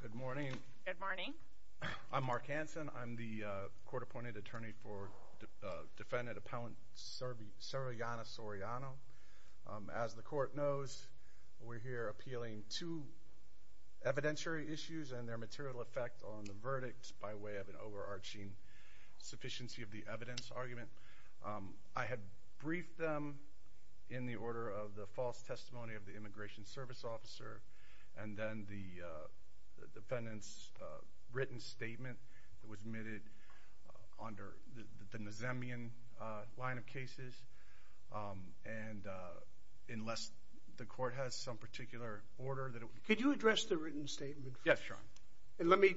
Good morning. Good morning. I'm Mark Hanson. I'm the court-appointed attorney for defendant appellant Servillana Soriano. As the court knows, we're here appealing to evidentiary issues and their material effect on the verdict by way of an overarching sufficiency of the evidence argument. I had briefed them in the order of the false testimony of the Immigration Service Officer and then the defendant's written statement that was admitted under the Nazemian line of cases and unless the court has some particular order that it would... Could you address the written statement? Yes, Your Honor. And let me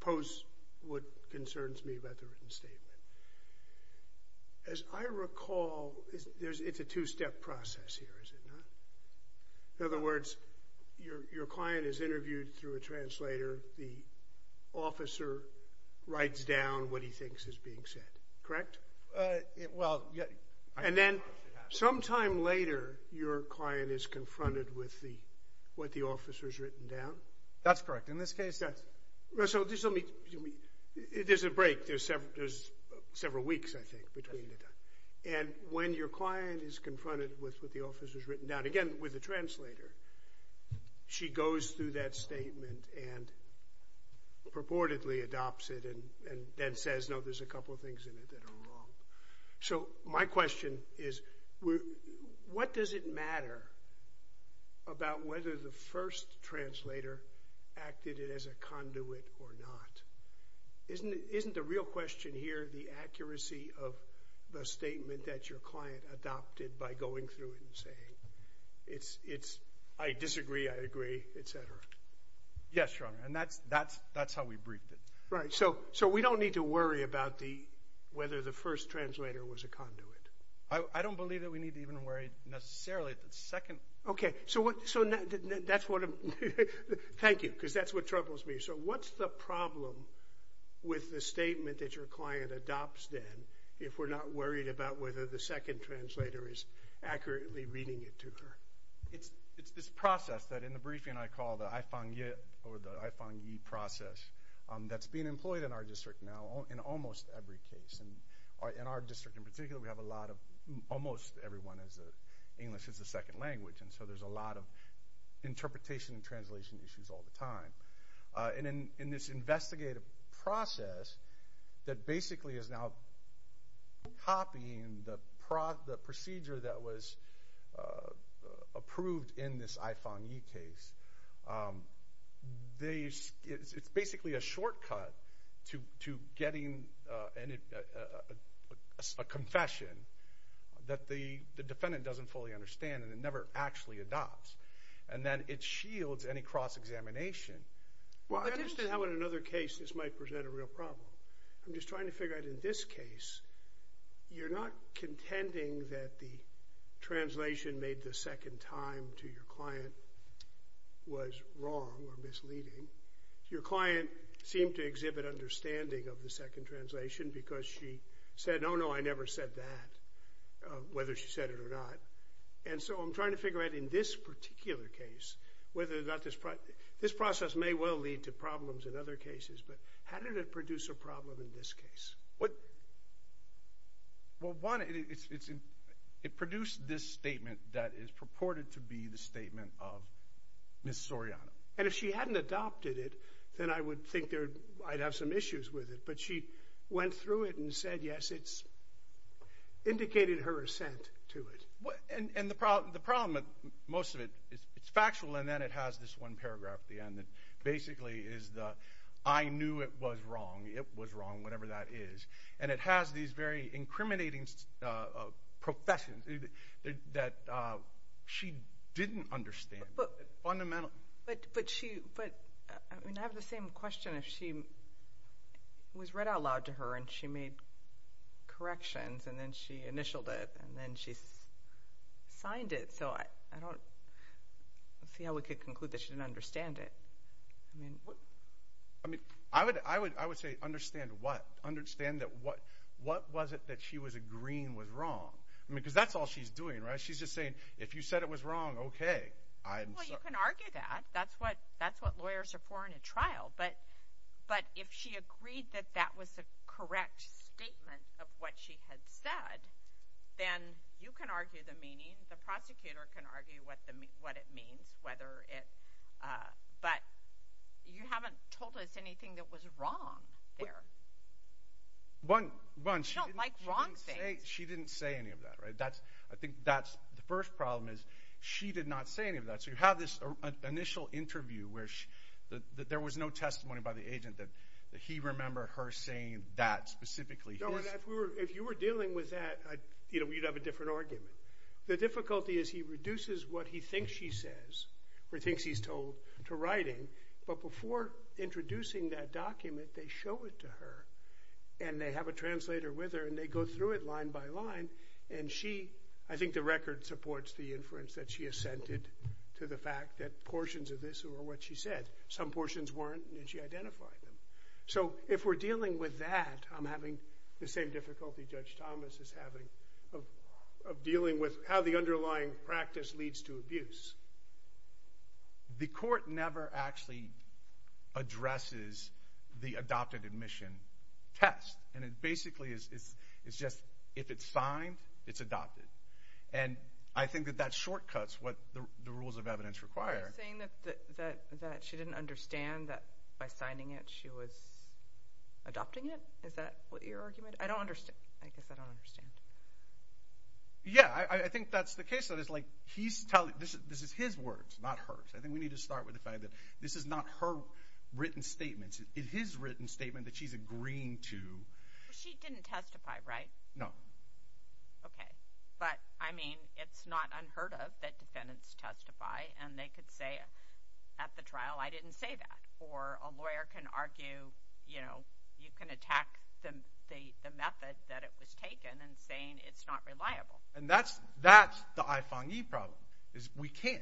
pose what concerns me about the written statement. In other words, your client is interviewed through a translator. The officer writes down what he thinks is being said, correct? Well... And then sometime later your client is confronted with what the officer's written down? That's correct. In this case... So there's a break. There's several weeks, I think, between the time. And when your client is confronted with what the officer's written down, again with a translator, she goes through that statement and purportedly adopts it and then says, no, there's a couple of things in it that are wrong. So my question is, what does it matter about whether the first translator acted it as a conduit or not? Isn't the real question here the accuracy of the statement that your client adopted by going through it and saying, I disagree, I agree, etc. Yes, Your Honor. And that's how we briefed it. Right. So we don't need to worry about whether the first translator was a conduit. I don't believe that we need to even worry necessarily the second... Okay. So that's what... Thank you. Because that's what troubles me. So what's the problem with the statement that your client adopts, then, if we're not worried about whether the second translator is accurately reading it to her? It's this process that in the briefing I call the I-Fang-Yi process that's being employed in our district now in almost every case. And in our district in particular, we have a lot of... Almost everyone has English as a second language. And so there's a lot of basically is now copying the procedure that was approved in this I-Fang-Yi case. It's basically a shortcut to getting a confession that the defendant doesn't fully understand and it never actually adopts. And then it shields any cross-examination. Well, I understand how in another case this might present a real problem. I'm just trying to figure out in this case, you're not contending that the translation made the second time to your client was wrong or misleading. Your client seemed to exhibit understanding of the second translation because she said, oh no, I never said that, whether she said it or not. And so I'm trying to figure out in this particular case whether this process may well lead to problems in other cases. But how did it produce a problem in this case? Well, one, it produced this statement that is purported to be the statement of Ms. Soriano. And if she hadn't adopted it, then I would think I'd have some issues with it. But she went through it and said, yes, it's indicated her assent to it. And the problem, most of it, it's factual and then it has this one paragraph at the end that basically is the, I knew it was wrong, it was wrong, whatever that is. And it has these very incriminating professions that she didn't understand. But I have the same question. If she was read out so I don't see how we could conclude that she didn't understand it. I mean, I would say understand what? Understand that what was it that she was agreeing was wrong? I mean, because that's all she's doing, right? She's just saying, if you said it was wrong, okay. Well, you can argue that. That's what lawyers are for in a trial. But if she agreed that that was a correct statement of what she had said, then you can argue the meaning, the prosecutor can argue what it means, whether it, but you haven't told us anything that was wrong there. One, she didn't say any of that, right? I think that's the first problem is she did not say any of that. So you have this initial interview where there was no testimony by the agent that he remembered her saying that specifically. If you were dealing with that, you know, we'd have a different argument. The difficulty is he reduces what he thinks she says or thinks he's told to writing, but before introducing that document, they show it to her and they have a translator with her and they go through it line by line. And she, I think the record supports the inference that she assented to the fact that portions of this or what she said, some portions weren't and she identified them. So if we're dealing with that, I'm having the same difficulty Judge Thomas is having of dealing with how the underlying practice leads to abuse. The court never actually addresses the adopted admission test. And it basically is, it's just, if it's signed, it's adopted. And I think that that shortcuts what the rules of evidence require. You're saying that she didn't understand that by signing it, she was adopting it. Is that what your argument? I don't understand. I guess I don't understand. Yeah. I think that's the case. That is like, he's telling this, this is his words, not hers. I think we need to start with the fact that this is not her written statements. It is written statement that she's agreeing to. She didn't testify, right? No. Okay. But I mean, it's not unheard of that defendants testify and they could say at the trial, I didn't say that. Or a lawyer can argue, you know, you can attack them, the method that it was taken and saying it's not reliable. And that's, that's the I-Fong-Yi problem is we can't,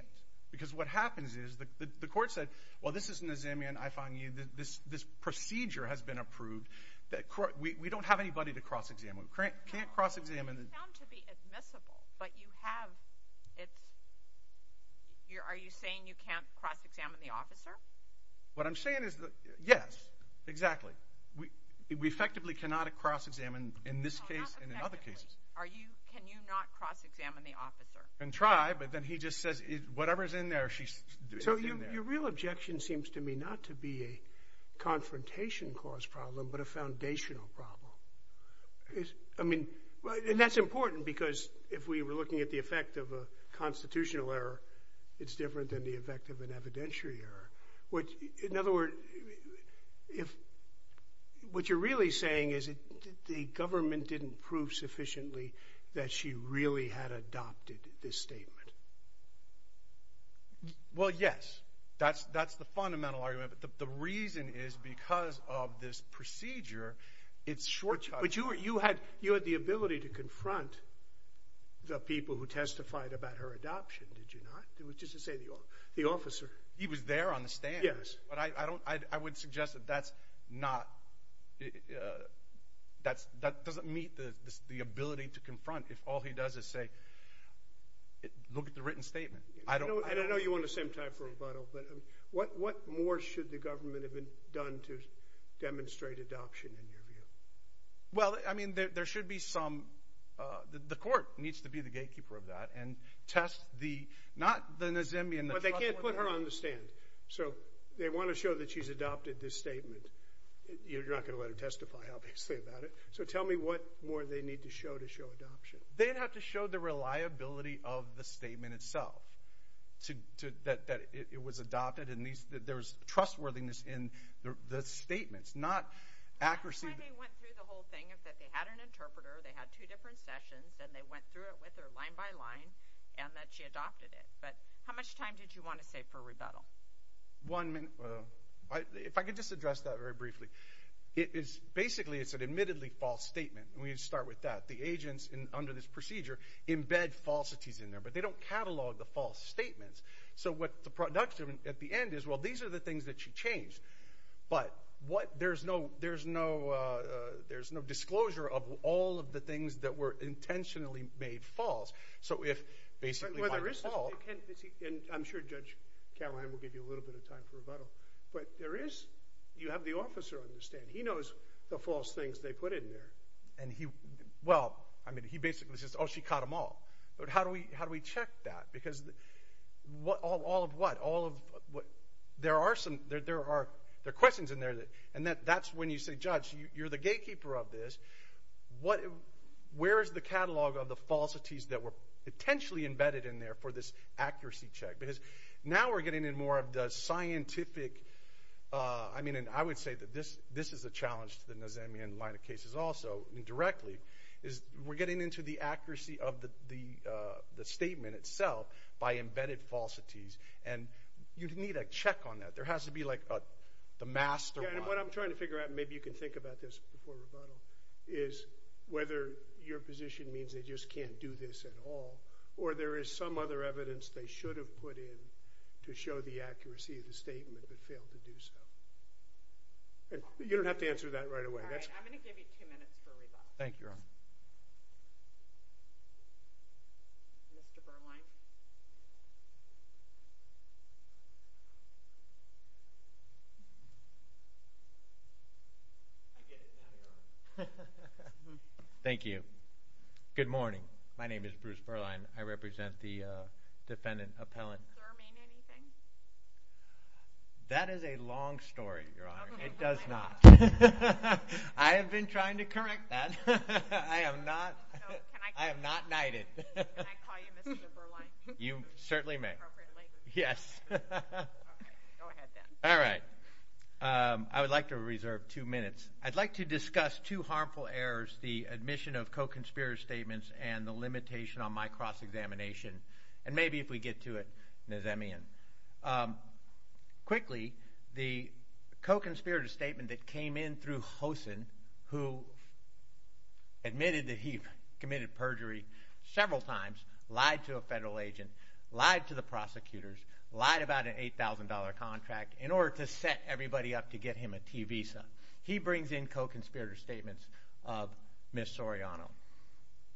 because what happens is the court said, well, this isn't a Zambian I-Fong-Yi, this, this procedure has been approved that we don't have anybody to cross examine. We can't cross examine. It's found to be admissible, but you have, it's, you're, are you saying you can't cross examine the officer? What I'm saying is, yes, exactly. We, we effectively cannot cross examine in this case and in other cases. Are you, can you not cross examine the officer? And try, but then he just says, whatever's in there, she's. So your real objection seems to me not to be a And that's important because if we were looking at the effect of a constitutional error, it's different than the effect of an evidentiary error. Which, in other words, if, what you're really saying is the government didn't prove sufficiently that she really had adopted this statement. Well, yes, that's, that's the fundamental argument, but the reason is because of this to confront the people who testified about her adoption, did you not? It was just to say the, the officer. He was there on the stand. Yes. But I, I don't, I, I would suggest that that's not, that's, that doesn't meet the, the ability to confront if all he does is say, look at the written statement. I don't, I don't. I know you want the same time for a bottle, but what, what more should the government have been done to demonstrate adoption in your view? Well, I mean, there, there should be some, the court needs to be the gatekeeper of that and test the, not the Nazemian. But they can't put her on the stand. So they want to show that she's adopted this statement. You're not going to let her testify, obviously, about it. So tell me what more they need to show to show adoption. They'd have to show the reliability of the statement itself. To, to, that, that it was adopted and these, there's trustworthiness in the, the statements, not accuracy. I don't know why they went through the whole thing, is that they had an interpreter, they had two different sessions, then they went through it with her line by line, and that she adopted it. But how much time did you want to say for rebuttal? One minute. If I could just address that very briefly. It is, basically, it's an admittedly false statement. And we need to start with that. The agents in, under this procedure, embed falsities in there, but they don't catalog the false statements. So what the production, at the end, is, well, these are the things that she changed. But what, there's no, there's no, there's no disclosure of all of the things that were intentionally made false. So if, basically, by default. Well, there is, and I'm sure Judge Cameron will give you a little bit of time for rebuttal. But there is, you have the officer on the stand. He knows the false things they put in there. And he, well, I mean, he basically says, oh, she caught them all. But how do we, how do we check that? Because all of what? All of what? There are some, there are questions in there that, and that's when you say, Judge, you're the gatekeeper of this. What, where is the catalog of the falsities that were potentially embedded in there for this accuracy check? Because now we're getting in more of the scientific, I mean, and I would say that this, this is a challenge to the Nazamian line of cases also, indirectly, is we're getting into the statement itself by embedded falsities. And you need a check on that. There has to be like a, the mastermind. Yeah, and what I'm trying to figure out, and maybe you can think about this before rebuttal, is whether your position means they just can't do this at all, or there is some other evidence they should have put in to show the accuracy of the statement if it failed to do so. You don't have to answer that right away. All right, I'm going to give you two minutes for Mr. Berline. Thank you. Good morning. My name is Bruce Berline. I represent the defendant appellant. That is a long story, Your Honor. It does not. I have been trying to correct that. I am not, I am not knighted. Can I call you Mr. Berline? You certainly may. Yes. All right. I would like to reserve two minutes. I'd like to discuss two harmful errors, the admission of co-conspirator statements and the limitation on my cross-examination, and maybe if we get to it, Nazamian. Quickly, the co-conspirator statement that came in through committed perjury several times, lied to a federal agent, lied to the prosecutors, lied about an $8,000 contract in order to set everybody up to get him a T visa. He brings in co-conspirator statements of Ms. Soriano.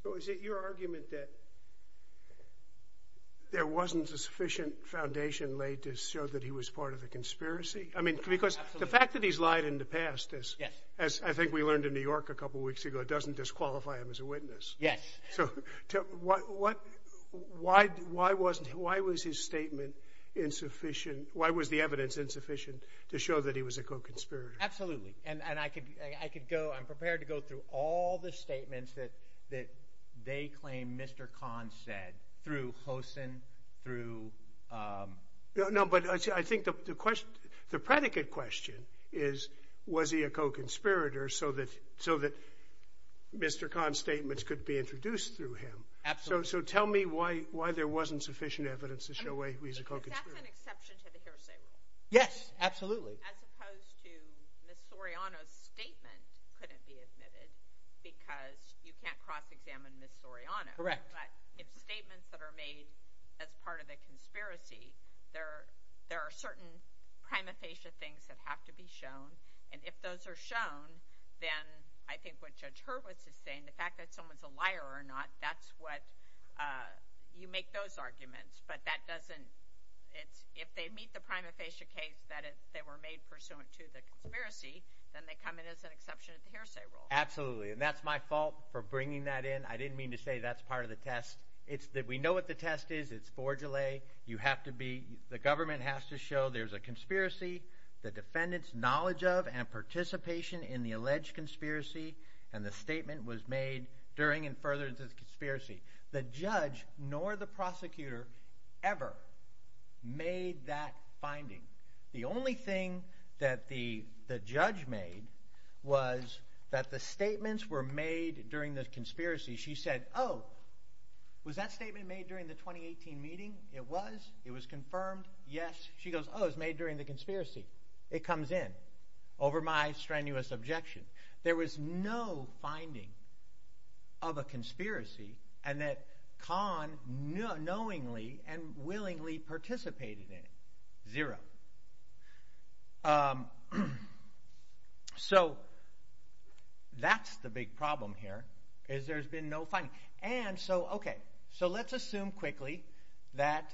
So is it your argument that there wasn't a sufficient foundation laid to show that he was part of the conspiracy? I mean, because the fact that he's lied in the past, as I think we learned in New York a couple weeks ago, doesn't disqualify him as a witness. Yes. So why was his statement insufficient, why was the evidence insufficient to show that he was a co-conspirator? Absolutely. And I could go, I'm prepared to go through all the statements that they claim Mr. Khan said through Hosin, through... No, but I think the question, the predicate question is, was he a co-conspirator so that Mr. Khan's statements could be introduced through him? Absolutely. So tell me why there wasn't sufficient evidence to show he's a co-conspirator? That's an exception to the hearsay rule. Yes, absolutely. As opposed to Ms. Soriano's statement couldn't be admitted because you can't cross-examine Ms. Soriano. Correct. But if statements that are made as part of a conspiracy, there are certain prima facie things that have to be shown, and if those are then I think what Judge Hurwitz is saying, the fact that someone's a liar or not, that's what, you make those arguments, but that doesn't, it's, if they meet the prima facie case that they were made pursuant to the conspiracy, then they come in as an exception to the hearsay rule. Absolutely. And that's my fault for bringing that in. I didn't mean to say that's part of the test. It's that we know what the test is. It's for delay. You have to be, the government has to show there's a conspiracy, the defendant's knowledge of and participation in the alleged conspiracy, and the statement was made during and further into the conspiracy. The judge nor the prosecutor ever made that finding. The only thing that the judge made was that the statements were made during the conspiracy. She said, oh, was that statement made during the 2018 meeting? It was. It was confirmed, yes. She goes, oh, it was made during the conspiracy. It comes in, over my strenuous objection. There was no finding of a conspiracy and that Khan knowingly and willingly participated in it. Zero. So that's the big problem here, is there's been no finding. And so, okay, so let's assume quickly that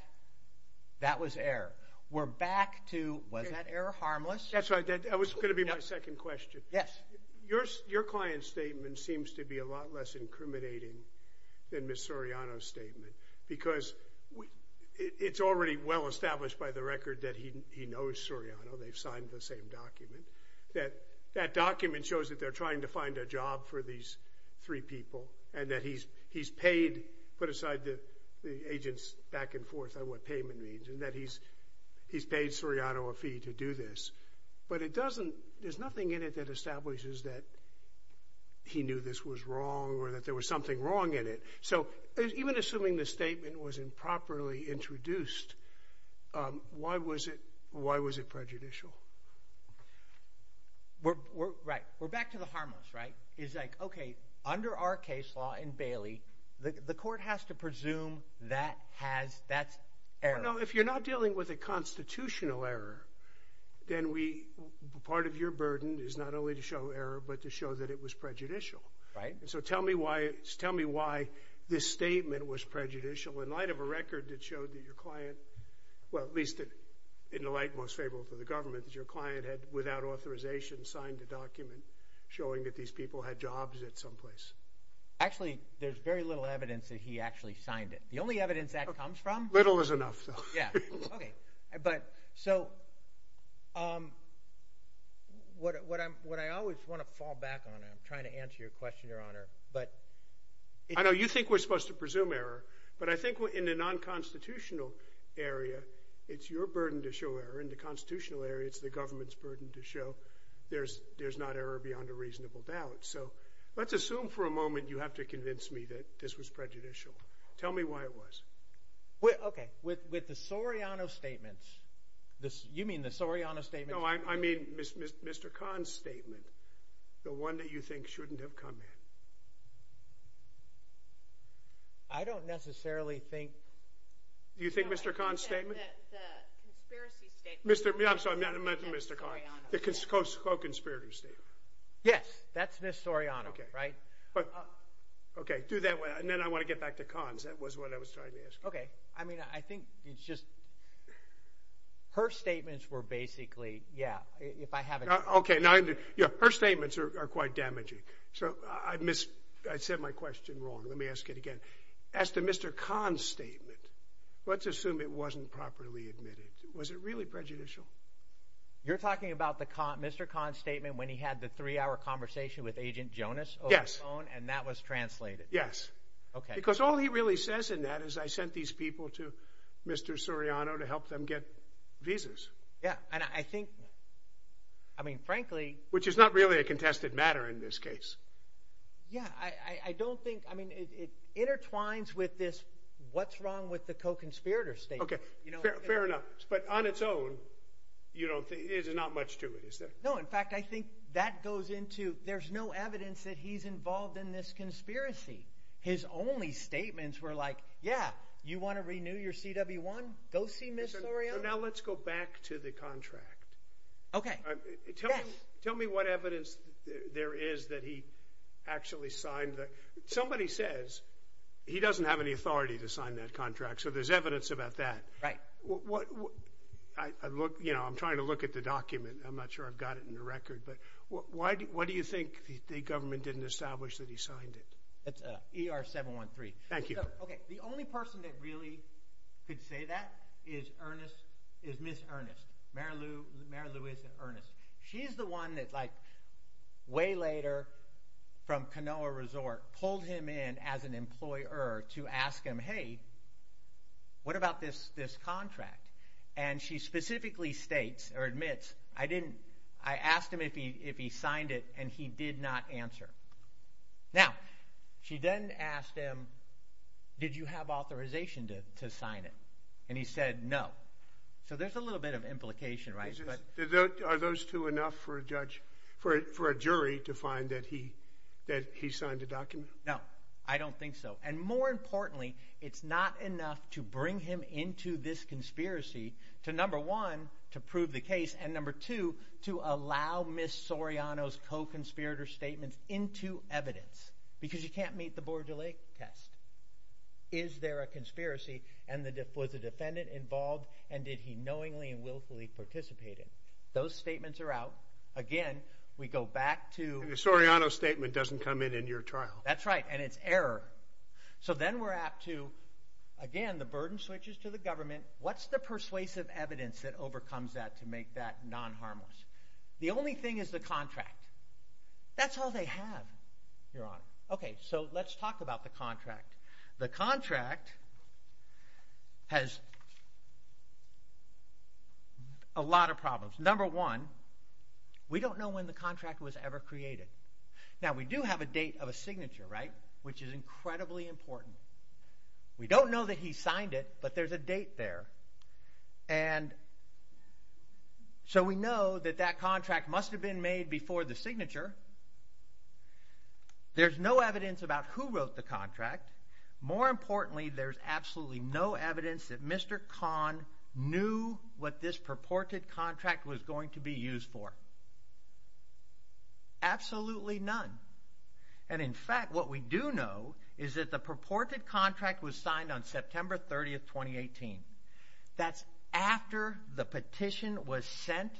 that was error. We're back to, was that error harmless? That's right. That was going to be my second question. Your client's statement seems to be a lot less incriminating than Ms. Soriano's statement because it's already well established by the record that he knows Soriano. They've signed the same document. That document shows that they're trying to find a job for these three people and that he's paid, put aside the agents back and forth on what payment means and that he's paid Soriano a fee to do this. But it doesn't, there's nothing in it that establishes that he knew this was wrong or that there was something wrong in it. So even assuming the statement was improperly introduced, um, why was it, why was it prejudicial? We're, we're right. We're back to the harmless, right? Is like, okay, under our case law in Bailey, the court has to presume that has, that's error. No, if you're not dealing with a constitutional error, then we, part of your burden is not only to show error, but to show that it was prejudicial. Right. So tell me why, tell me why this statement was well, at least in the light most favorable for the government that your client had without authorization signed a document showing that these people had jobs at some place. Actually, there's very little evidence that he actually signed it. The only evidence that comes from little is enough. Yeah. Okay. But so, um, what, what I'm, what I always want to fall back on, I'm trying to answer your question, your honor, but I know you think we're supposed to show error in the constitutional area. It's your burden to show error in the constitutional area. It's the government's burden to show there's, there's not error beyond a reasonable doubt. So let's assume for a moment, you have to convince me that this was prejudicial. Tell me why it was okay. With, with the Soriano statements, this, you mean the Soriano statement? No, I mean, Mr. Khan's statement, the one that you think shouldn't have come in. I don't necessarily think. Do you think Mr. Khan's statement? The conspiracy statement. Mr. I'm sorry, I meant Mr. Khan. The co-conspirator statement. Yes, that's Ms. Soriano, right? Okay. Do that way. And then I want to get back to Khan's. That was what I was trying to ask. Okay. I mean, I think it's just her statements were basically, yeah, if I have it. Okay. Now her statements are quite damaging. So I missed, I said my question wrong. Let me ask it again. As to Mr. Khan's statement, let's assume it wasn't properly admitted. Was it really prejudicial? You're talking about the con, Mr. Khan's statement when he had the three-hour conversation with agent Jonas over the phone and that was translated. Yes. Okay. Because all he really says in that is I sent these people to Mr. Soriano to help them get visas. Yeah. And I think, I mean, frankly. Which is not really a contested matter in this case. Yeah. I don't think, I mean, it intertwines with this, what's wrong with the co-conspirator statement. Okay. Fair enough. But on its own, you don't think, there's not much to it, is there? No. In fact, I think that goes into, there's no evidence that he's involved in this conspiracy. His only statements were like, yeah, you want to renew your CW1? Go see Mr. Soriano? So now let's go back to the contract. Okay. Tell me what evidence there is that he actually signed the, somebody says he doesn't have any authority to sign that contract. So there's evidence about that. Right. What, I look, you know, I'm trying to look at the document. I'm not sure I've got it in the record, but why do you think the government didn't establish that he signed it? That's ER713. Thank you. Okay. The only person that really could say that is Ernest, is Ms. Ernest, Mary Lou, Mary Louise Ernest. She's the one that like way later from Kanoa Resort pulled him in as an employer to ask him, hey, what about this, this contract? And she specifically states or admits, I didn't, I asked him if he, if he signed it and he did not answer. Now she then asked him, did you have authorization to, to sign it? And he said, no. So there's a little bit of implication, right? Are those two enough for a judge, for a jury to find that he, that he signed a document? No, I don't think so. And more importantly, it's not enough to bring him into this conspiracy to number one, to prove the case and number two, to allow Ms. Soriano's co-conspirator statements into evidence, because you can't meet the Bordelais test. Is there a conspiracy? And the, was the defendant involved and did he knowingly and willfully participated? Those statements are out. Again, we go back to the Soriano statement doesn't come in, in your trial. That's right. And it's error. So then we're apt to, again, the burden switches to the government. What's the persuasive evidence that overcomes that to make that non-harmless? The only thing is the contract. That's all they have, Your Honor. Okay. So let's talk about the contract. The contract has a lot of problems. Number one, we don't know when the contract was ever created. Now we do have a date of a signature, right? Which is incredibly important. We don't know that he signed it, but there's a date there. And so we know that that contract must have been made before the signature. There's no evidence about who wrote the contract. More importantly, there's absolutely no evidence that Mr. Kahn knew what this purported contract was going to be used for. Absolutely none. And in fact, what we do know is that the purported contract was signed on September 30th, 2018. That's after the petition was sent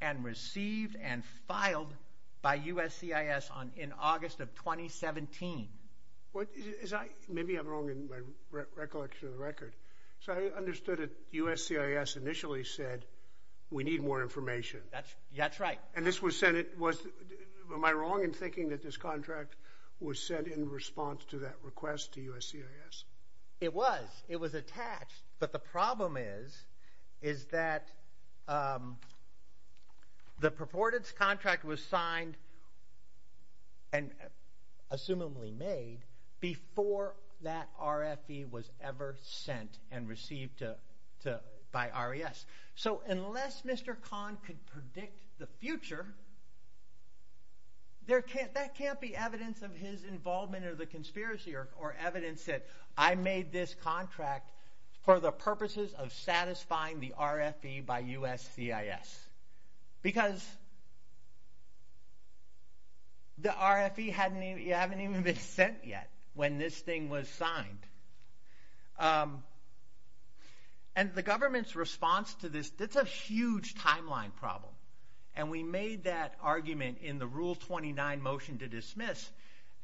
and received and filed by USCIS in August of 2017. Maybe I'm wrong in my recollection of the record. So I understood that USCIS initially said we need more information. That's right. Am I wrong in thinking that this contract was sent in response to that request to USCIS? It was. It was attached. But the problem is that the purported contract was signed and assumedly made before that RFE was ever sent and received by RES. So unless Mr. Kahn could predict the future, that can't be evidence of his involvement or the conspiracy or evidence that I made this contract for the purposes of satisfying the RFE by USCIS. Because the RFE hadn't even been sent yet when this thing was signed. And the government's response to this, that's a huge timeline problem. And we made that argument in the Rule 29 motion to dismiss.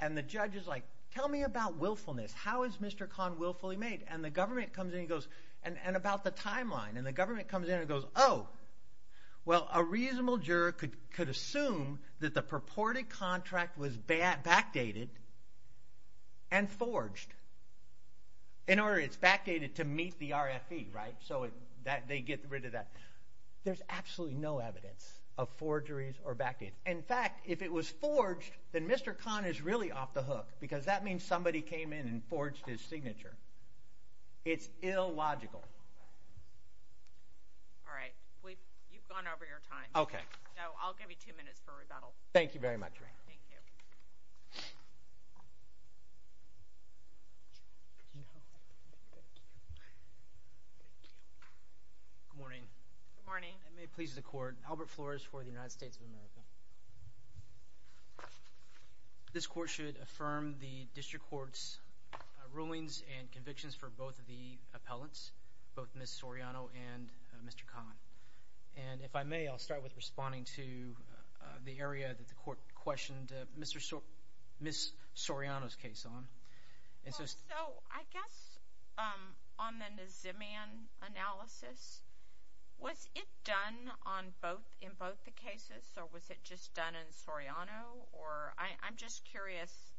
And the judge is like, tell me about willfulness. How is Mr. Kahn willfully made? And the government comes in and goes, and about the timeline. And the government comes in and goes, oh, well, a reasonable juror could assume that the purported contract was the RFE, right? So they get rid of that. There's absolutely no evidence of forgeries or backdates. In fact, if it was forged, then Mr. Kahn is really off the hook. Because that means somebody came in and forged his signature. It's illogical. All right. You've gone over your time. Okay. I'll give you two minutes for rebuttal. Thank you very much. Good morning. Good morning. I may please the court. Albert Flores for the United States of America. This court should affirm the district court's rulings and convictions for both of the cases. I'm just curious,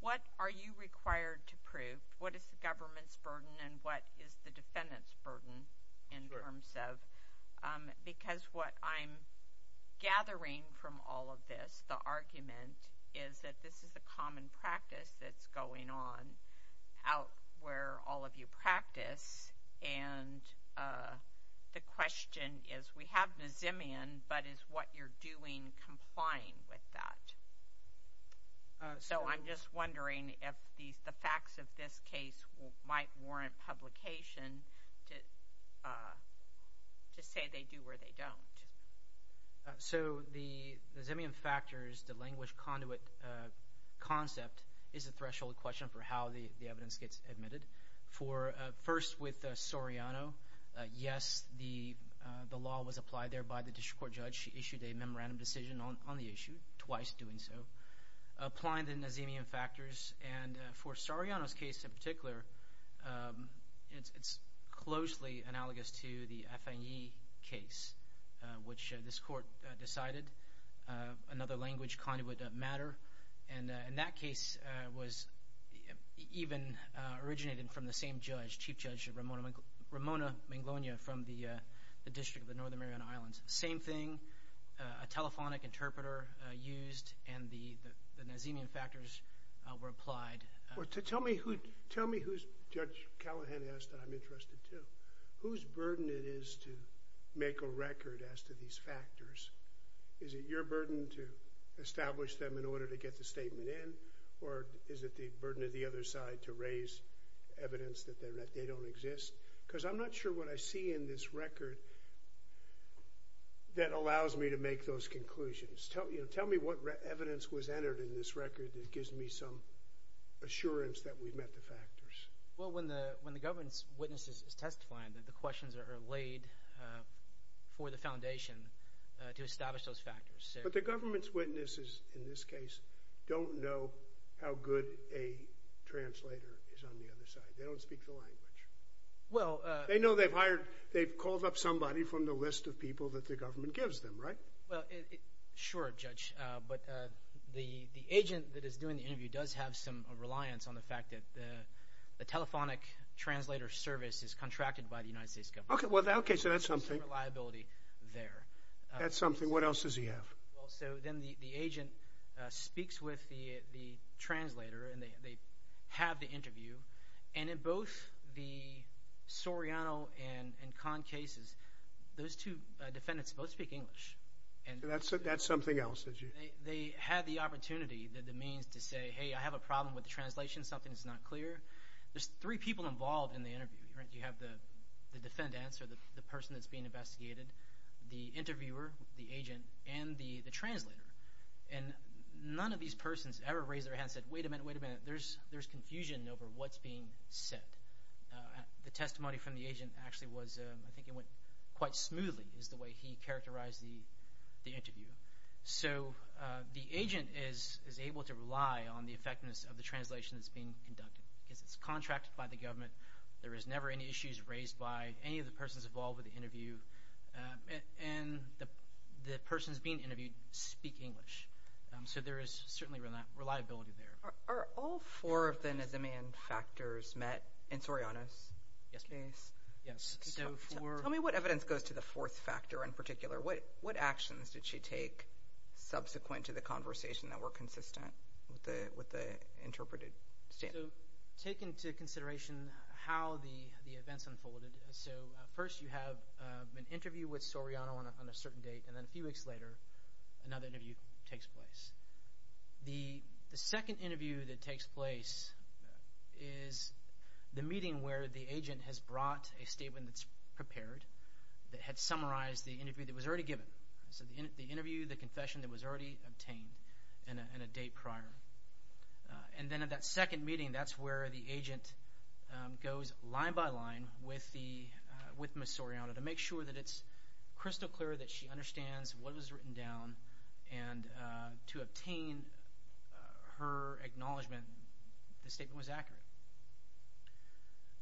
what are you required to prove? What is the government's burden and what is the defendant's burden in terms of? Because what I'm gathering from all of this, the argument, is that this is a common practice that's going on out where all of you practice. And the question is, we have Nazimian, but is what you're doing complying with that? So I'm just wondering if the facts of this case might warrant publication to say they do or they don't. So the Nazimian factors, the language conduit concept, is a threshold question for how the evidence gets admitted. First with Soriano, yes, the law was applied there by the district court judge. She issued a memorandum decision on the issue, twice doing so. Applying the Nazimian factors. And for Soriano's case in particular, it's closely analogous to the Afanyi case, which this court decided another language conduit doesn't matter. And that case was even originated from the same judge, Chief Judge Ramona Manglonia from the District of the Northern Islands. Same thing, a telephonic interpreter used, and the Nazimian factors were applied. Tell me who's, Judge Callahan asked that I'm interested to, whose burden it is to make a record as to these factors. Is it your burden to establish them in order to get the statement in, or is it the burden of the other side to raise evidence that they don't exist? Because I'm not sure what I see in this record that allows me to make those conclusions. Tell me what evidence was entered in this record that gives me some assurance that we've met the factors. Well, when the government's witness is testifying, the questions are laid for the foundation to establish those factors. But the government's witnesses in this case don't know how good a translator is on the other side. They don't speak the language. They know they've hired, they've called up somebody from the list of people that the government gives them, right? Well, sure, Judge. But the agent that is doing the interview does have some reliance on the fact that the telephonic translator service is contracted by the United States government. Okay, so that's something. Reliability there. That's something. What else does he have? Well, so then the agent speaks with the translator, and they have the interview. And in both the Soriano and Kahn cases, those two defendants both speak English. That's something else. They had the opportunity, the means to say, hey, I have a problem with the translation, something's not clear. There's three people involved in the interview. You have the defendants, or the person that's being investigated, the interviewer, the agent, and the translator. And none of these persons ever raised their hand and said, wait a minute, wait a minute, there's confusion over what's being said. The testimony from the agent actually was, I think it went quite smoothly, is the way he characterized the interview. So the agent is able to rely on the effectiveness of the translation that's being conducted. It's contracted by the government. There is never any issues raised by any of the persons involved with the interview. And the persons being interviewed speak English. So there is certainly reliability there. Are all four of the Nisman factors met in Soriano's case? Yes. Tell me what evidence goes to the fourth factor in particular. What actions did she take subsequent to the conversation that were consistent with the interpreted stand? Take into consideration how the events unfolded. So first you have an interview with Soriano on a certain date, and then a few weeks later another interview takes place. The second interview that takes place is the meeting where the agent has brought a statement that's prepared that had summarized the interview that was already given. So the interview, the confession that was already obtained, and a date prior. And then at that second meeting, that's where the was written down, and to obtain her acknowledgment, the statement was accurate.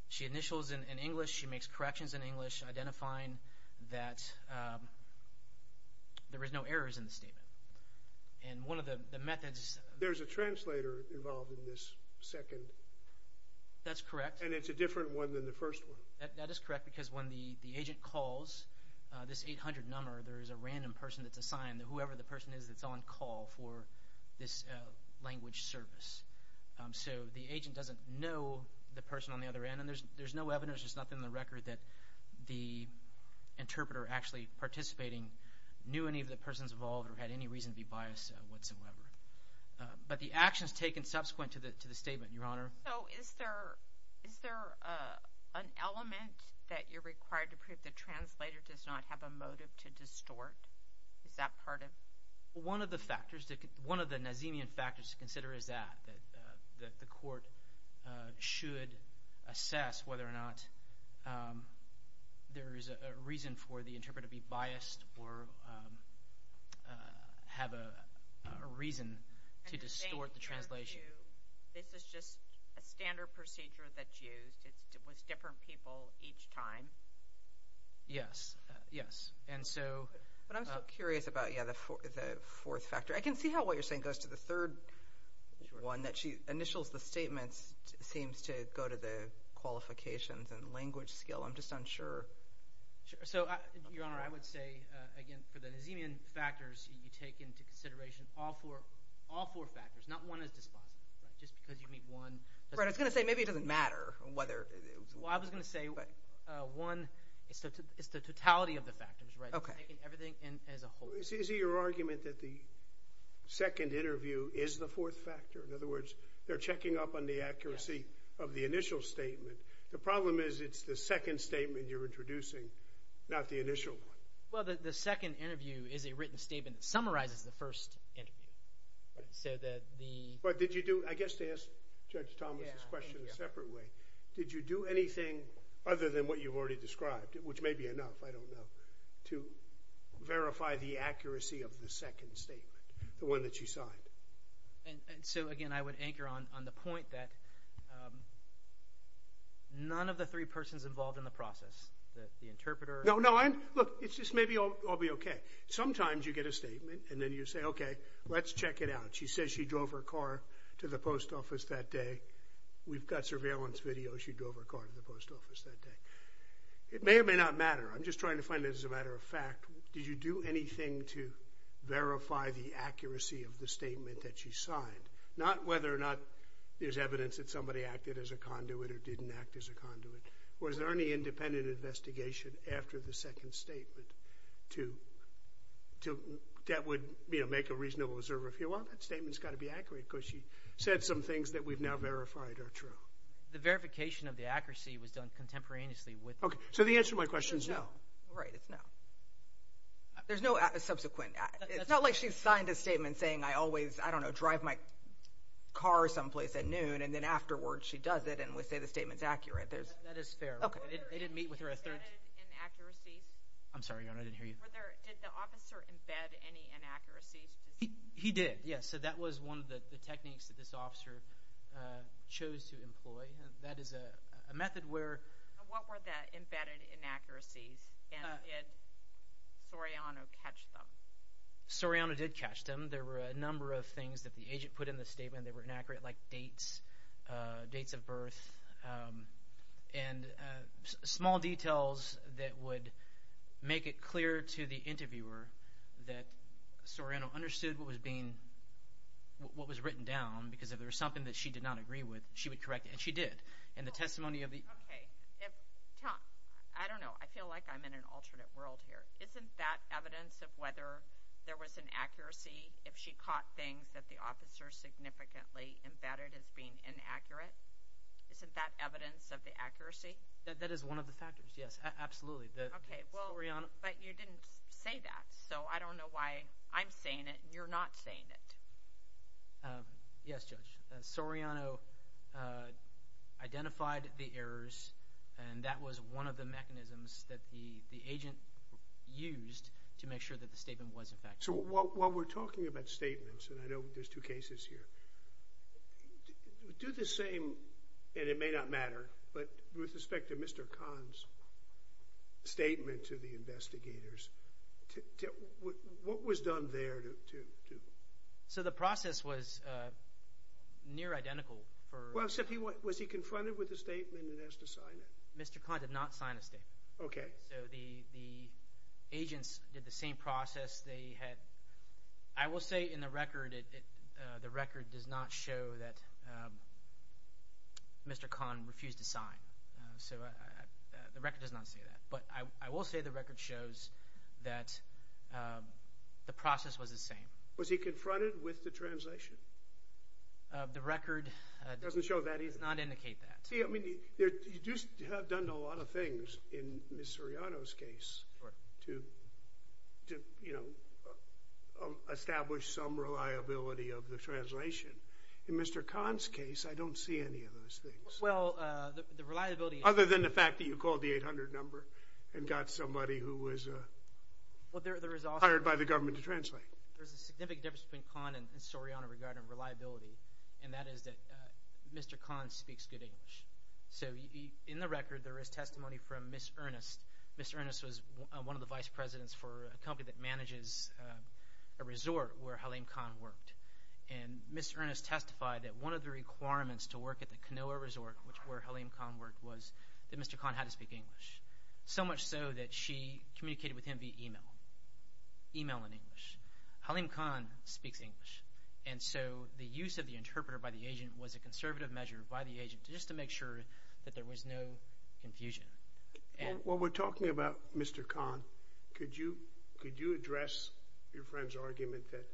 She initials in English. She makes corrections in English, identifying that there were no errors in the statement. And one of the methods... There's a translator involved in this second... That's correct. And it's a different one than the first one. That is correct, because when the agent calls this 800 number, there's a random person that's assigned, whoever the person is that's on call for this language service. So the agent doesn't know the person on the other end, and there's no evidence, there's nothing on the record that the interpreter actually participating knew any of the persons involved or had any reason to be biased whatsoever. But the actions taken subsequent to the statement, Your Honor. So is there an element that you're required to prove the translator does not have a motive to distort? Is that part of... One of the factors, one of the Nazemian factors to consider is that, that the court should assess whether or not there is a reason for the interpreter to be biased or have a reason to distort the translation. This is just a standard procedure that's used. It's with different people each time. Yes. Yes. And so... But I'm still curious about, yeah, the fourth factor. I can see how what you're saying goes to the third one, that she initials the statements, seems to go to the qualifications and language skill. I'm just unsure. So, Your Honor, I would say, again, for the Nazemian factors, you take into consideration all four factors, not one as dispositive, but just because you meet one... Right. I was going to say, maybe it doesn't matter whether... Well, I was going to say, one, it's the totality of the factors, right? Okay. Taking everything as a whole. Is it your argument that the second interview is the fourth factor? In other words, they're checking up on the accuracy of the initial statement. The problem is, it's the second statement you're introducing, not the initial one. Well, the second interview is a written statement that summarizes the first interview. So that the... But did you do... I guess to ask Judge Thomas's question a separate way, did you do anything other than what you've already described, which may be enough, I don't know, to verify the accuracy of the second statement, the one that you signed? And so, again, I would anchor on the point that none of the three persons involved in the process, the interpreter... Look, it's just maybe I'll be okay. Sometimes you get a statement and then you say, okay, let's check it out. She says she drove her car to the post office that day. We've got surveillance video. She drove her car to the post office that day. It may or may not matter. I'm just trying to find it as a matter of fact. Did you do anything to verify the accuracy of the statement that she signed? Not whether or not there's evidence that somebody acted as a conduit or didn't act as a conduit, was there any independent investigation after the second statement to... That would make a reasonable observer feel, well, that statement's got to be accurate because she said some things that we've now verified are true. The verification of the accuracy was done contemporaneously with... Okay. So the answer to my question is no. Right. It's no. There's no subsequent... It's not like she signed a statement saying I always, I don't know, drive my car someplace at noon and then afterwards she does it and we say the statement's accurate. That is fair. Okay. They didn't meet with her a third... Embedded inaccuracies? I'm sorry, Your Honor. I didn't hear you. Did the officer embed any inaccuracies? He did, yes. So that was one of the techniques that this officer chose to employ. That is a method where... What were the embedded inaccuracies and did Soriano catch them? Soriano did catch them. There were a number of things that the agent put in the statement. They were inaccurate like dates, dates of birth and small details that would make it clear to the interviewer that Soriano understood what was being, what was written down because if there was something that she did not agree with, she would correct it and she did. And the testimony of the... Okay. Tom, I don't know. I feel like I'm in an alternate world here. Isn't that evidence of whether there was an accuracy if she caught things that the officer significantly embedded as being inaccurate? Isn't that evidence of the accuracy? That is one of the factors, yes. Absolutely. Okay. Well, but you didn't say that. So I don't know why I'm saying it and you're not saying it. Yes, Judge. Soriano identified the errors and that was one of the mechanisms that the statement was effective. So while we're talking about statements, and I know there's two cases here, do the same, and it may not matter, but with respect to Mr. Kahn's statement to the investigators, what was done there to... So the process was near identical for... Well, except he, was he confronted with the statement and asked to sign it? Mr. Kahn did not sign a statement. Okay. So the agents did the same process. They had, I will say in the record, the record does not show that Mr. Kahn refused to sign. So the record does not say that, but I will say the record shows that the process was the same. Was he confronted with the translation? The record... Doesn't show that either. ...does not indicate that. You do have done a lot of things in Ms. Soriano's case to establish some reliability of the translation. In Mr. Kahn's case, I don't see any of those things. Well, the reliability... Other than the fact that you called the 800 number and got somebody who was hired by the government to translate. There's a significant difference between Kahn and Ms. Soriano regarding reliability, and that is that Mr. Kahn speaks good English. So in the record, there is testimony from Ms. Ernest. Ms. Ernest was one of the vice presidents for a company that manages a resort where Halim Kahn worked. And Ms. Ernest testified that one of the requirements to work at the Kanoa Resort, which is where Halim Kahn worked, was that Mr. Kahn had to speak English. So much so that she communicated with him via email, email in English. Halim Kahn speaks English, and so the use of the interpreter by the agent was a conservative measure by the agent just to make sure that there was no confusion. While we're talking about Mr. Kahn, could you address your friend's argument that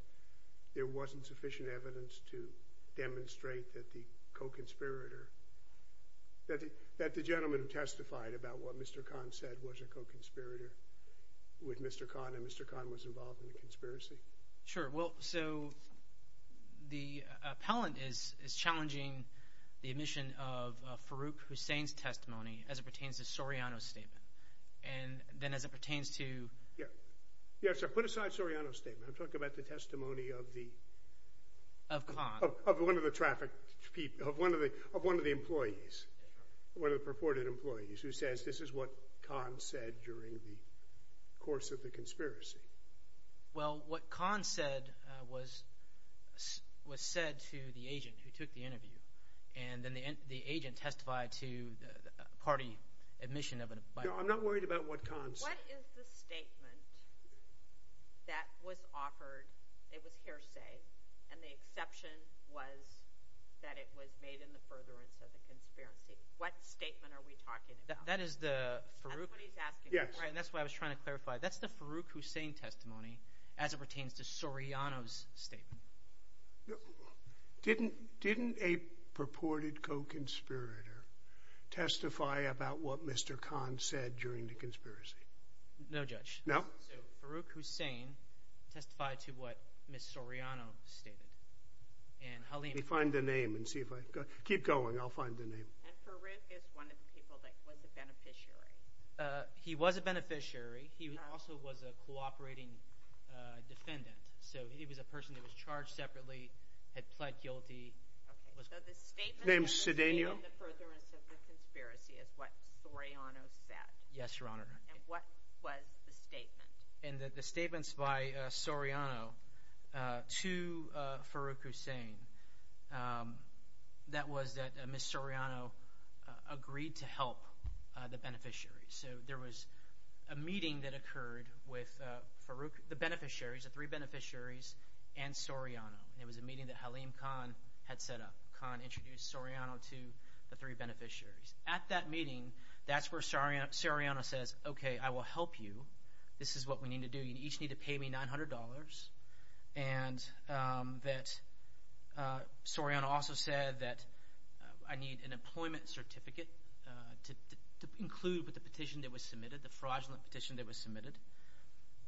there wasn't sufficient evidence to demonstrate that the co-conspirator, that the gentleman who testified about what Mr. Kahn said was a co-conspirator with Mr. Kahn, and Mr. Kahn was involved in the conspiracy? Sure. Well, so the appellant is challenging the admission of Farouk Hussein's testimony as it pertains to Soriano's statement. And then as it pertains to... Yes, sir. Put aside Soriano's statement. I'm talking about the testimony of the... Of Kahn. Of one of the trafficked people, of one of the employees, one of the purported employees who says this is what Kahn said during the course of the conspiracy. Well, what Kahn said was said to the agent who took the interview, and then the agent testified to the party admission of a... No, I'm not worried about what Kahn said. What is the statement that was offered, it was hearsay, and the exception was that it was made in the furtherance of the conspiracy? What statement are we talking about? That is the Farouk... That's what he's asking. Yes. That's what I was trying to clarify. That's the Farouk Hussein testimony as it pertains to Soriano's statement. Didn't a purported co-conspirator testify about what Mr. Kahn said during the conspiracy? No, Judge. No? So, Farouk Hussein testified to what Ms. Soriano stated, and Halim... Find the name and see if I... Keep going. I'll find the name. And Farouk is one of the people that was a beneficiary. He was a beneficiary. He also was a cooperating defendant. So, he was a person that was charged separately, had pled guilty. So, the statement... Name's Cedeno. ...in the furtherance of the conspiracy is what Soriano said. Yes, Your Honor. And what was the statement? In the statements by Soriano to Farouk Hussein, that was that Ms. Soriano agreed to help the beneficiary. So, there was a meeting that occurred with the beneficiaries, the three beneficiaries, and Soriano. It was a meeting that Halim Kahn had set up. Kahn introduced Soriano to the three beneficiaries. At that meeting, that's where Soriano says, okay, I will help you. This is what we need to do. You each need to pay me $900. And that Soriano also said that I need an employment certificate to include with the petition that was submitted, the fraudulent petition that was submitted.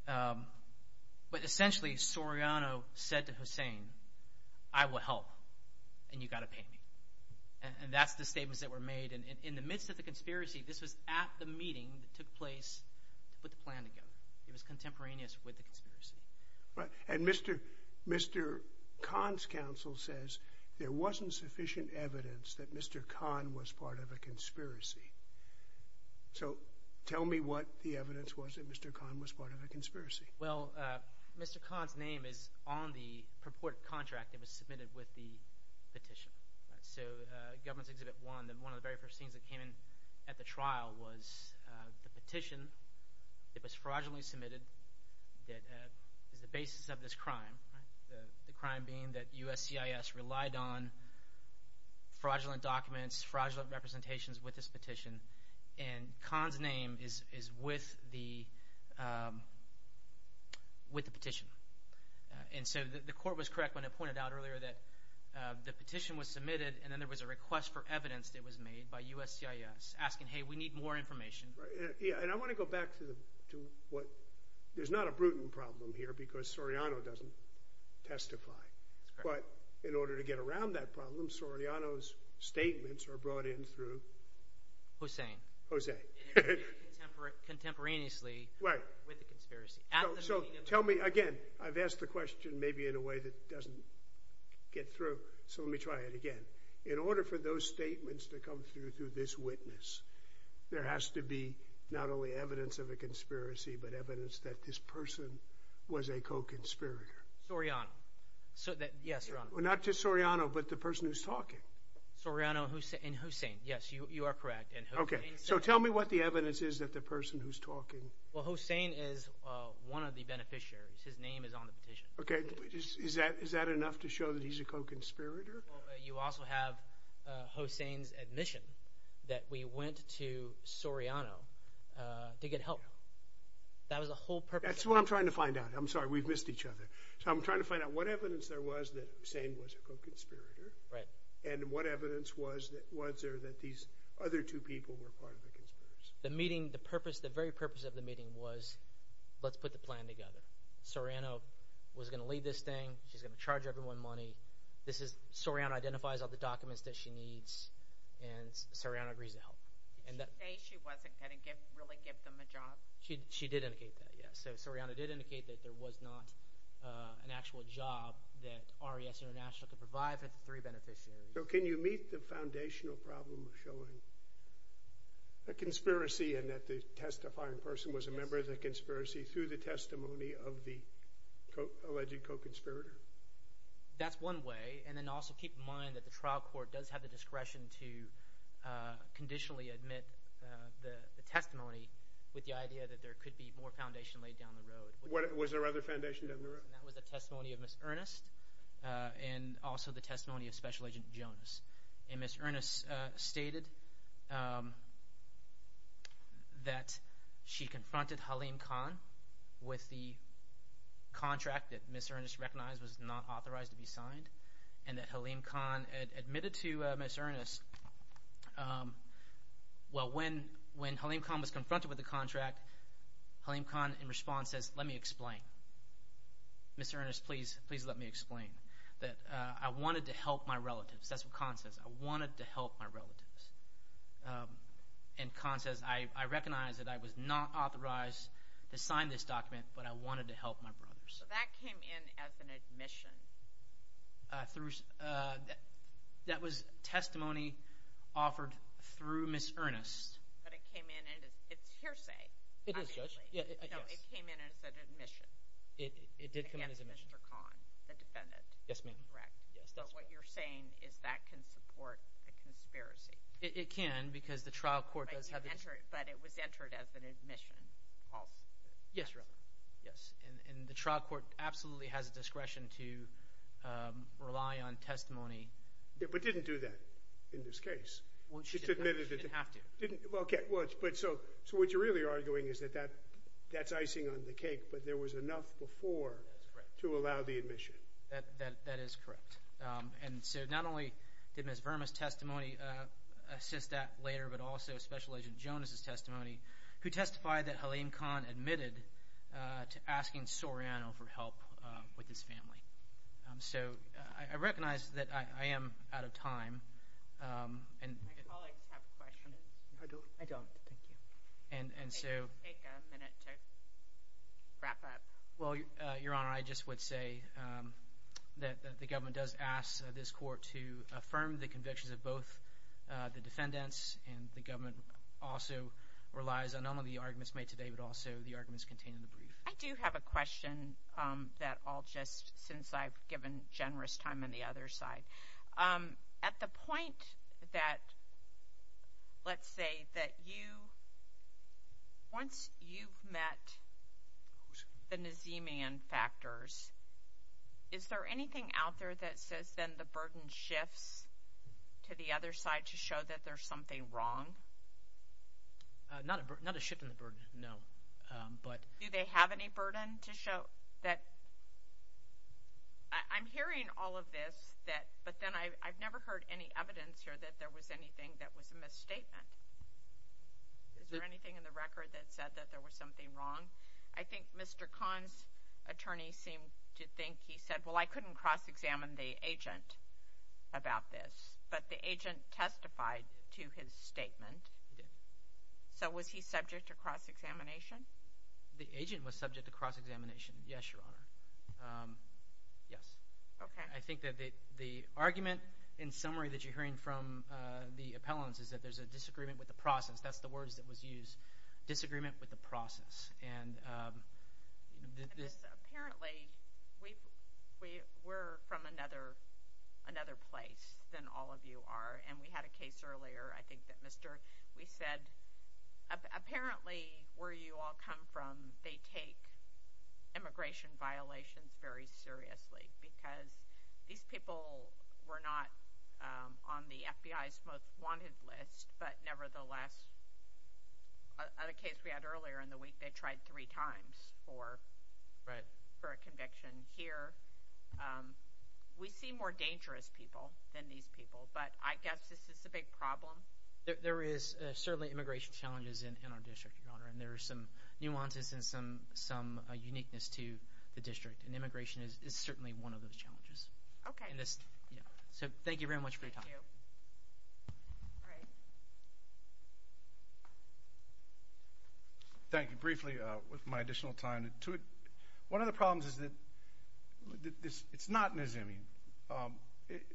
But essentially, Soriano said to Hussein, I will help, and you got to pay me. And that's the statements that were made. And in the midst of the conspiracy, this was at the meeting that took place with the planning government. It was contemporaneous with the conspiracy. Right. And Mr. Kahn's counsel says there wasn't sufficient evidence that Mr. Kahn was part of a conspiracy. So, tell me what the evidence was that Mr. Kahn was part of a conspiracy. Well, Mr. Kahn's name is on the purported contract that was submitted with the very first scenes that came in at the trial was the petition that was fraudulently submitted that is the basis of this crime. The crime being that USCIS relied on fraudulent documents, fraudulent representations with this petition. And Kahn's name is with the petition. And so, the court was correct when it pointed out earlier that the petition was by USCIS asking, hey, we need more information. Yeah. And I want to go back to what, there's not a prudent problem here because Soriano doesn't testify. But in order to get around that problem, Soriano's statements are brought in through? Hussein. Hussein. Contemporaneously. Right. So, tell me again, I've asked the question maybe in a way that doesn't get through. So, let me try it again. In order for those statements to come through, through this witness, there has to be not only evidence of a conspiracy, but evidence that this person was a co-conspirator. Soriano. Yes, Your Honor. Not just Soriano, but the person who's talking. Soriano and Hussein. Yes, you are correct. Okay. So, tell me what the evidence is that the person who's talking. Well, Hussein is one of the beneficiaries. His name is on the petition. Okay. Is that enough to show that he's a co-conspirator? You also have Hussein's admission that we went to Soriano to get help. That was the whole purpose. That's what I'm trying to find out. I'm sorry, we've missed each other. So, I'm trying to find out what evidence there was that Hussein was a co-conspirator. Right. And what evidence was there that these other two people were part of the conspiracy? The meeting, the purpose, the very purpose of the meeting was, let's put the plan together. Soriano was going to lead this thing. She's going to charge everyone money. Soriano identifies all the documents that she needs, and Soriano agrees to help. Did she say she wasn't going to really give them a job? She did indicate that, yes. So, Soriano did indicate that there was not an actual job that RES International could provide for the three beneficiaries. So, can you meet the foundational problem of showing that there was a conspiracy and that the testifying person was a member of the conspiracy through the testimony of the alleged co-conspirator? That's one way, and then also keep in mind that the trial court does have the discretion to conditionally admit the testimony with the idea that there could be more foundation laid down the road. Was there other foundation down the road? That was the testimony of Ms. Ernest and also the testimony of Special Agent Jones. And Ms. Ernest stated that she confronted Halim Khan with the contract that Ms. Ernest recognized was not authorized to be signed and that Halim Khan admitted to Ms. Ernest. Well, when Halim Khan was confronted with the contract, Halim Khan, in response, says, let me explain. Ms. Ernest, please let me explain that I wanted to help my relatives. That's what Khan says. I wanted to help my relatives. And Khan says, I recognize that I was not authorized to sign this document, but I wanted to help my brothers. So, that came in as an admission? That was testimony offered through Ms. Ernest. But it came in, it's hearsay, obviously. It is, Judge. Yeah, I guess. It came in as an admission. It did come in as an admission. Against Mr. Khan, the defendant. Yes, ma'am. Correct. So, what you're saying is that can support a conspiracy? It can, because the trial court does have a... But it was entered as an admission. Yes, Your Honor. Yes. And the trial court absolutely has a discretion to rely on testimony. But didn't do that in this case. Well, she didn't have to. Well, okay. But so, what you're really arguing is that that's icing on the cake, but there was enough before to allow the admission. That is correct. And so, not only did Ms. Verma's testimony assist that later, but also Special Agent Jonas' testimony, who testified that Haleem Khan admitted to asking Soriano for help with his family. So, I recognize that I am out of time. My colleagues have questions. I don't. I don't. Thank you. And so... Take a minute to wrap up. Well, Your Honor, I just would say that the government does ask this court to affirm the convictions of both the defendants, and the government also relies on not only the arguments made today, but also the arguments contained in the brief. I do have a question that I'll just, since I've given generous time on the other side. At the point that, let's say, that you, once you've met the Nazemian factors, is there anything out there that says then the burden shifts to the other side to show that there's something wrong? Not a shift in the burden, no. But... Do they have any burden to show that... I'm hearing all of this, but then I've never heard any evidence here that there was anything that was a misstatement. Is there anything in the record that said that there was something wrong? I think Mr. Khan's attorney seemed to think he said, well, I couldn't cross-examine the agent about this, but the agent testified to his statement. So, was he subject to cross-examination? The agent was subject to cross-examination, yes, Your Honor. Yes. Okay. I think that the argument, in summary, that you're hearing from the appellants is that there's a disagreement with the process. That's the words that was used, disagreement with the process. And this... Apparently, we're from another place than all of you are. And we had a case earlier, I think that Mr., we said, apparently, where you all come from, they take immigration violations very seriously, because these people were not on the FBI's most wanted list, but nevertheless, at a case we had earlier in the week, they tried three times for a conviction. Here, we see more dangerous people than these people, but I guess this is a big problem. There is certainly immigration challenges in our district, Your Honor, and there are some nuances and some uniqueness to the district, and immigration is certainly one of those challenges. Okay. So, thank you very much for your time. Thank you. All right. Thank you. Briefly, with my additional time, one of the problems is that it's not Nazemine.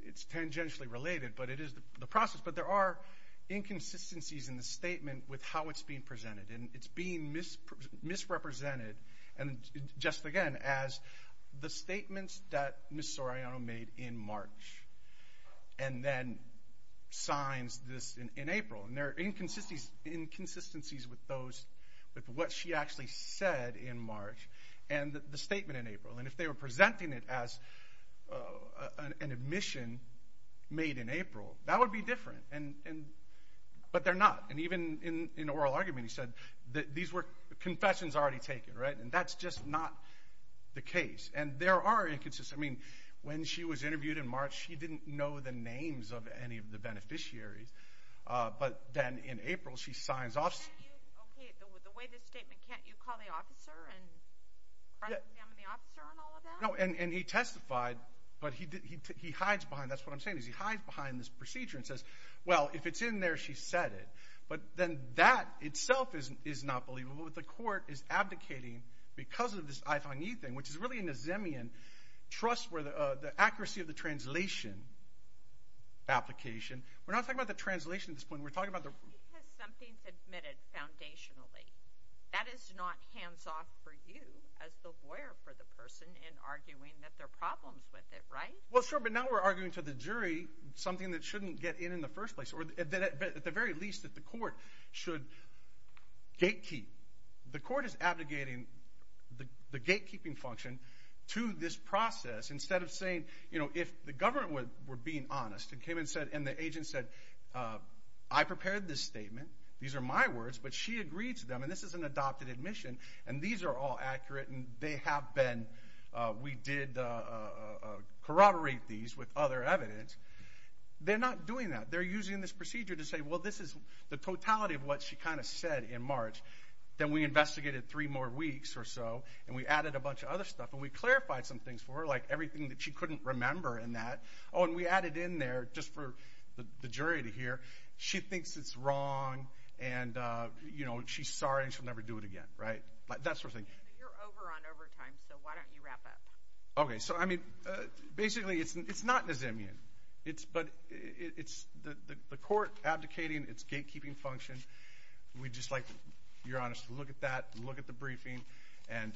It's tangentially related, but it is the process. But there are inconsistencies in the statement with how it's being presented, and it's being misrepresented, just again, as the statements that Ms. Soriano made in March, and then signs this in April. And there are inconsistencies with what she actually said in March, and the statement in April. And if they were presenting it as an admission made in April, that would be different. But they're not. And even in oral argument, he said that these were confessions already taken, right? And that's just not the case. And there are inconsistencies. I mean, when she was interviewed in March, she didn't know the names of any of the beneficiaries. But then in April, she signs off. Can't you, okay, the way this statement, can't you call the officer and front exam the officer on all of that? No, and he testified, but he hides behind, that's what I'm saying, is he hides behind this procedure and says, well, if it's in there, she said it. But then that itself is not believable. The court is abdicating because of this I-Fang-Yi thing, which is really a Nazemian trust where the accuracy of the translation application. We're not talking about the translation at this point. We're talking about the- Because something's admitted foundationally. That is not hands-off for you as the lawyer for the person in arguing that there are problems with it, right? Well, sure, but now we're arguing to the jury something that shouldn't get in in the first place, or at the very least that the court should gatekeep. The court is abdicating the gatekeeping function to this process instead of saying, you know, if the government were being honest and came and said, and the agent said, I prepared this statement, these are my words, but she agreed to them, and this is an adopted admission, and these are all accurate, and they have been, we did corroborate these with other evidence. They're not doing that. They're using this procedure to say, well, this is the totality of what she kind of said in March. Then we investigated three more weeks or so, and we added a bunch of other stuff, and we clarified some things for her, like everything that she couldn't remember in that. Oh, and we added in there, just for the jury to hear, she thinks it's wrong, and, you know, she's sorry and she'll never do it again, right? That sort of thing. You're over on overtime, so why don't you wrap up? Okay, so, I mean, basically, it's not Nizamian, but it's the court abdicating its gatekeeping function. We'd just like, if you're honest, to look at that, look at the briefing, and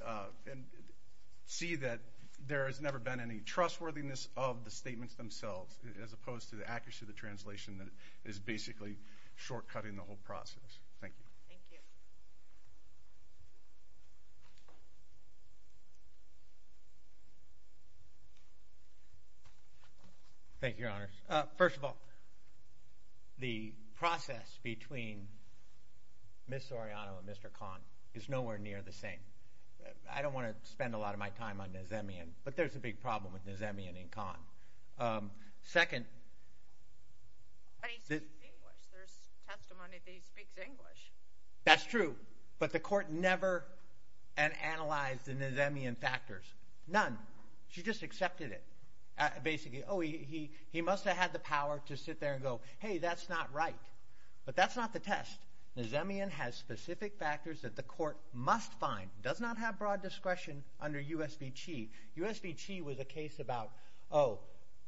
see that there has never been any trustworthiness of the statements themselves, as opposed to the accuracy of the translation that is basically shortcutting the whole process. Thank you. Thank you, Your Honor. First of all, the process between Ms. Soriano and Mr. Kahn is nowhere near the same. I don't want to spend a lot of my time on Nizamian, but there's a big problem with Nizamian and Kahn. Second, But he speaks English. There's testimony that he speaks English. That's true. But the court never analyzed the Nizamian factors. None. She just accepted it, basically. Oh, he must have had the power to sit there and go, hey, that's not right. But that's not the test. Nizamian has specific factors that the court must find, does not have broad discretion under USV-Chi. USV-Chi was a case about, oh,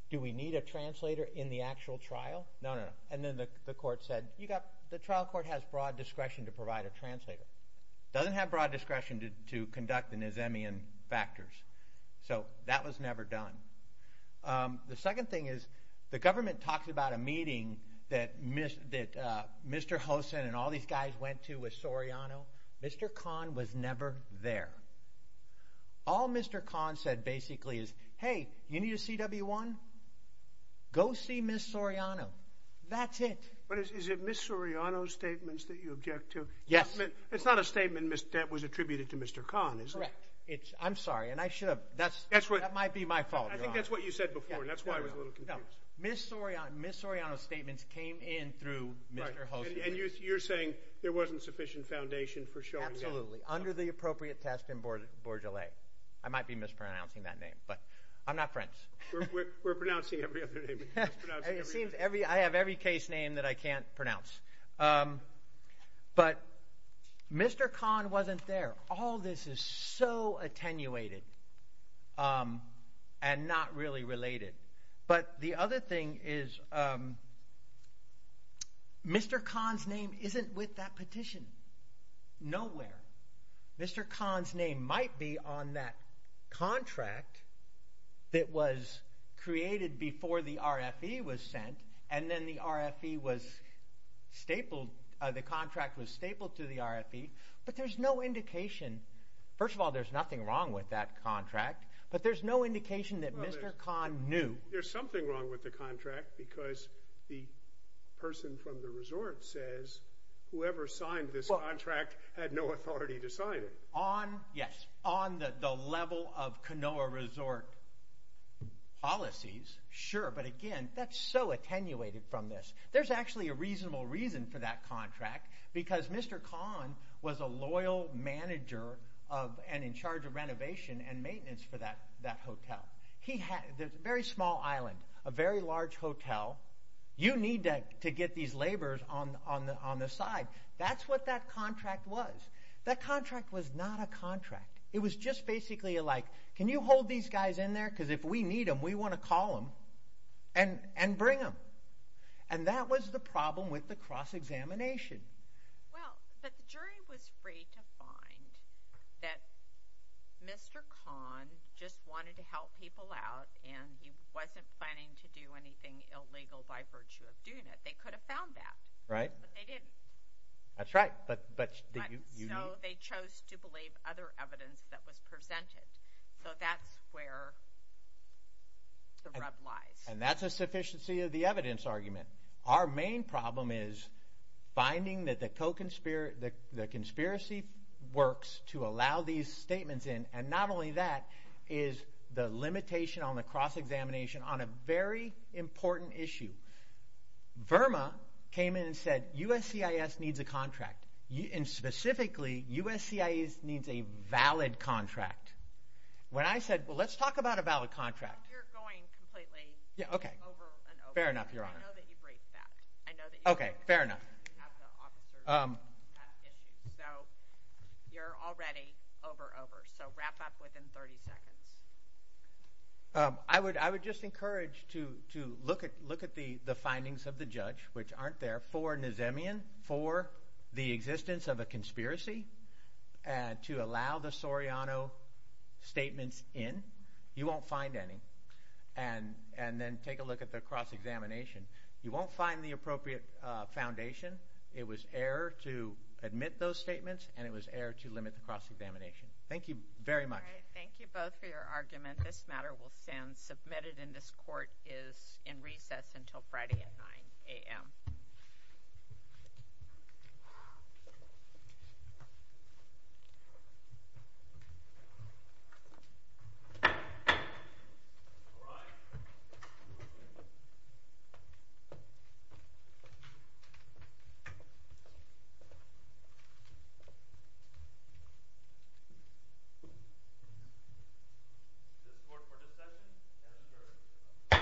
do we need a translator in the actual trial? No, no, no. And then the court said, you got, the trial court has broad discretion to provide a translator. It doesn't have broad discretion to conduct the Nizamian factors. So that was never done. The second thing is, the government talks about a meeting that Mr. Hosen and all these guys went to with Soriano. Mr. Kahn was never there. All Mr. Kahn said, basically, is, hey, you need a CW-1? Go see Ms. Soriano. That's it. But is it Ms. Soriano's statements that you object to? Yes. It's not a statement that was attributed to Mr. Kahn, is it? Correct. I'm sorry. And I should have, that might be my fault, Your Honor. I think that's what you said before, and that's why I was a little confused. Ms. Soriano's statements came in through Mr. Hosen. And you're saying there wasn't sufficient foundation for showing that? Absolutely. Under the appropriate test in Bourgeollais. I might be mispronouncing that name, but I'm not French. We're pronouncing every other name. It seems I have every case name that I can't pronounce. But Mr. Kahn wasn't there. All this is so attenuated and not really related. But the other thing is, Mr. Kahn's name isn't with that petition. Nowhere. Mr. Kahn's name might be on that contract that was created before the RFE was sent, and then the RFE was stapled, the contract was stapled to the RFE, but there's no indication. First of all, there's nothing wrong with that contract, but there's no indication that Mr. Kahn knew. There's something wrong with the contract, because the person from the resort says whoever signed this contract had no authority to sign it. Yes, on the level of Kanoa Resort policies, sure, but again, that's so attenuated from this. There's actually a reasonable reason for that contract, because Mr. Kahn was a loyal manager of and in charge of renovation and maintenance for that hotel. He had a very small island, a very large hotel. You need to get these laborers on the side. That's what that contract was. That contract was not a contract. It was just basically like, can you hold these guys in there, because if we need them, we want to call them and bring them, and that was the problem with the cross-examination. Well, but the jury was free to find that Mr. Kahn just wanted to help people out, and he wasn't planning to do anything illegal by virtue of doing it. They could have found that, but they didn't. That's right, but did you? So they chose to believe other evidence that was presented, so that's where the rub lies. And that's a sufficiency of the evidence argument. Our main problem is finding that the conspiracy works to allow these statements in, and not only that, is the limitation on the cross-examination on a very important issue. Verma came in and said, USCIS needs a contract, and specifically, USCIS needs a valid contract. When I said, well, let's talk about a valid contract. Well, you're going completely over and over. Fair enough, Your Honor. I know that you break that. I know that you have the officer issue, so you're already over, over, so wrap up within 30 seconds. I would just encourage to look at the findings of the judge, which aren't there, for Nazemian, for the existence of a conspiracy, and to allow the Soriano statements in. You won't find any. And then take a look at the cross-examination. You won't find the appropriate foundation. It was error to admit those statements, and it was error to limit the cross-examination. Thank you very much. Thank you both for your argument. This matter will stand submitted, and this court is in recess until Friday at 9 a.m. Is this court for discussion? Yes, sir.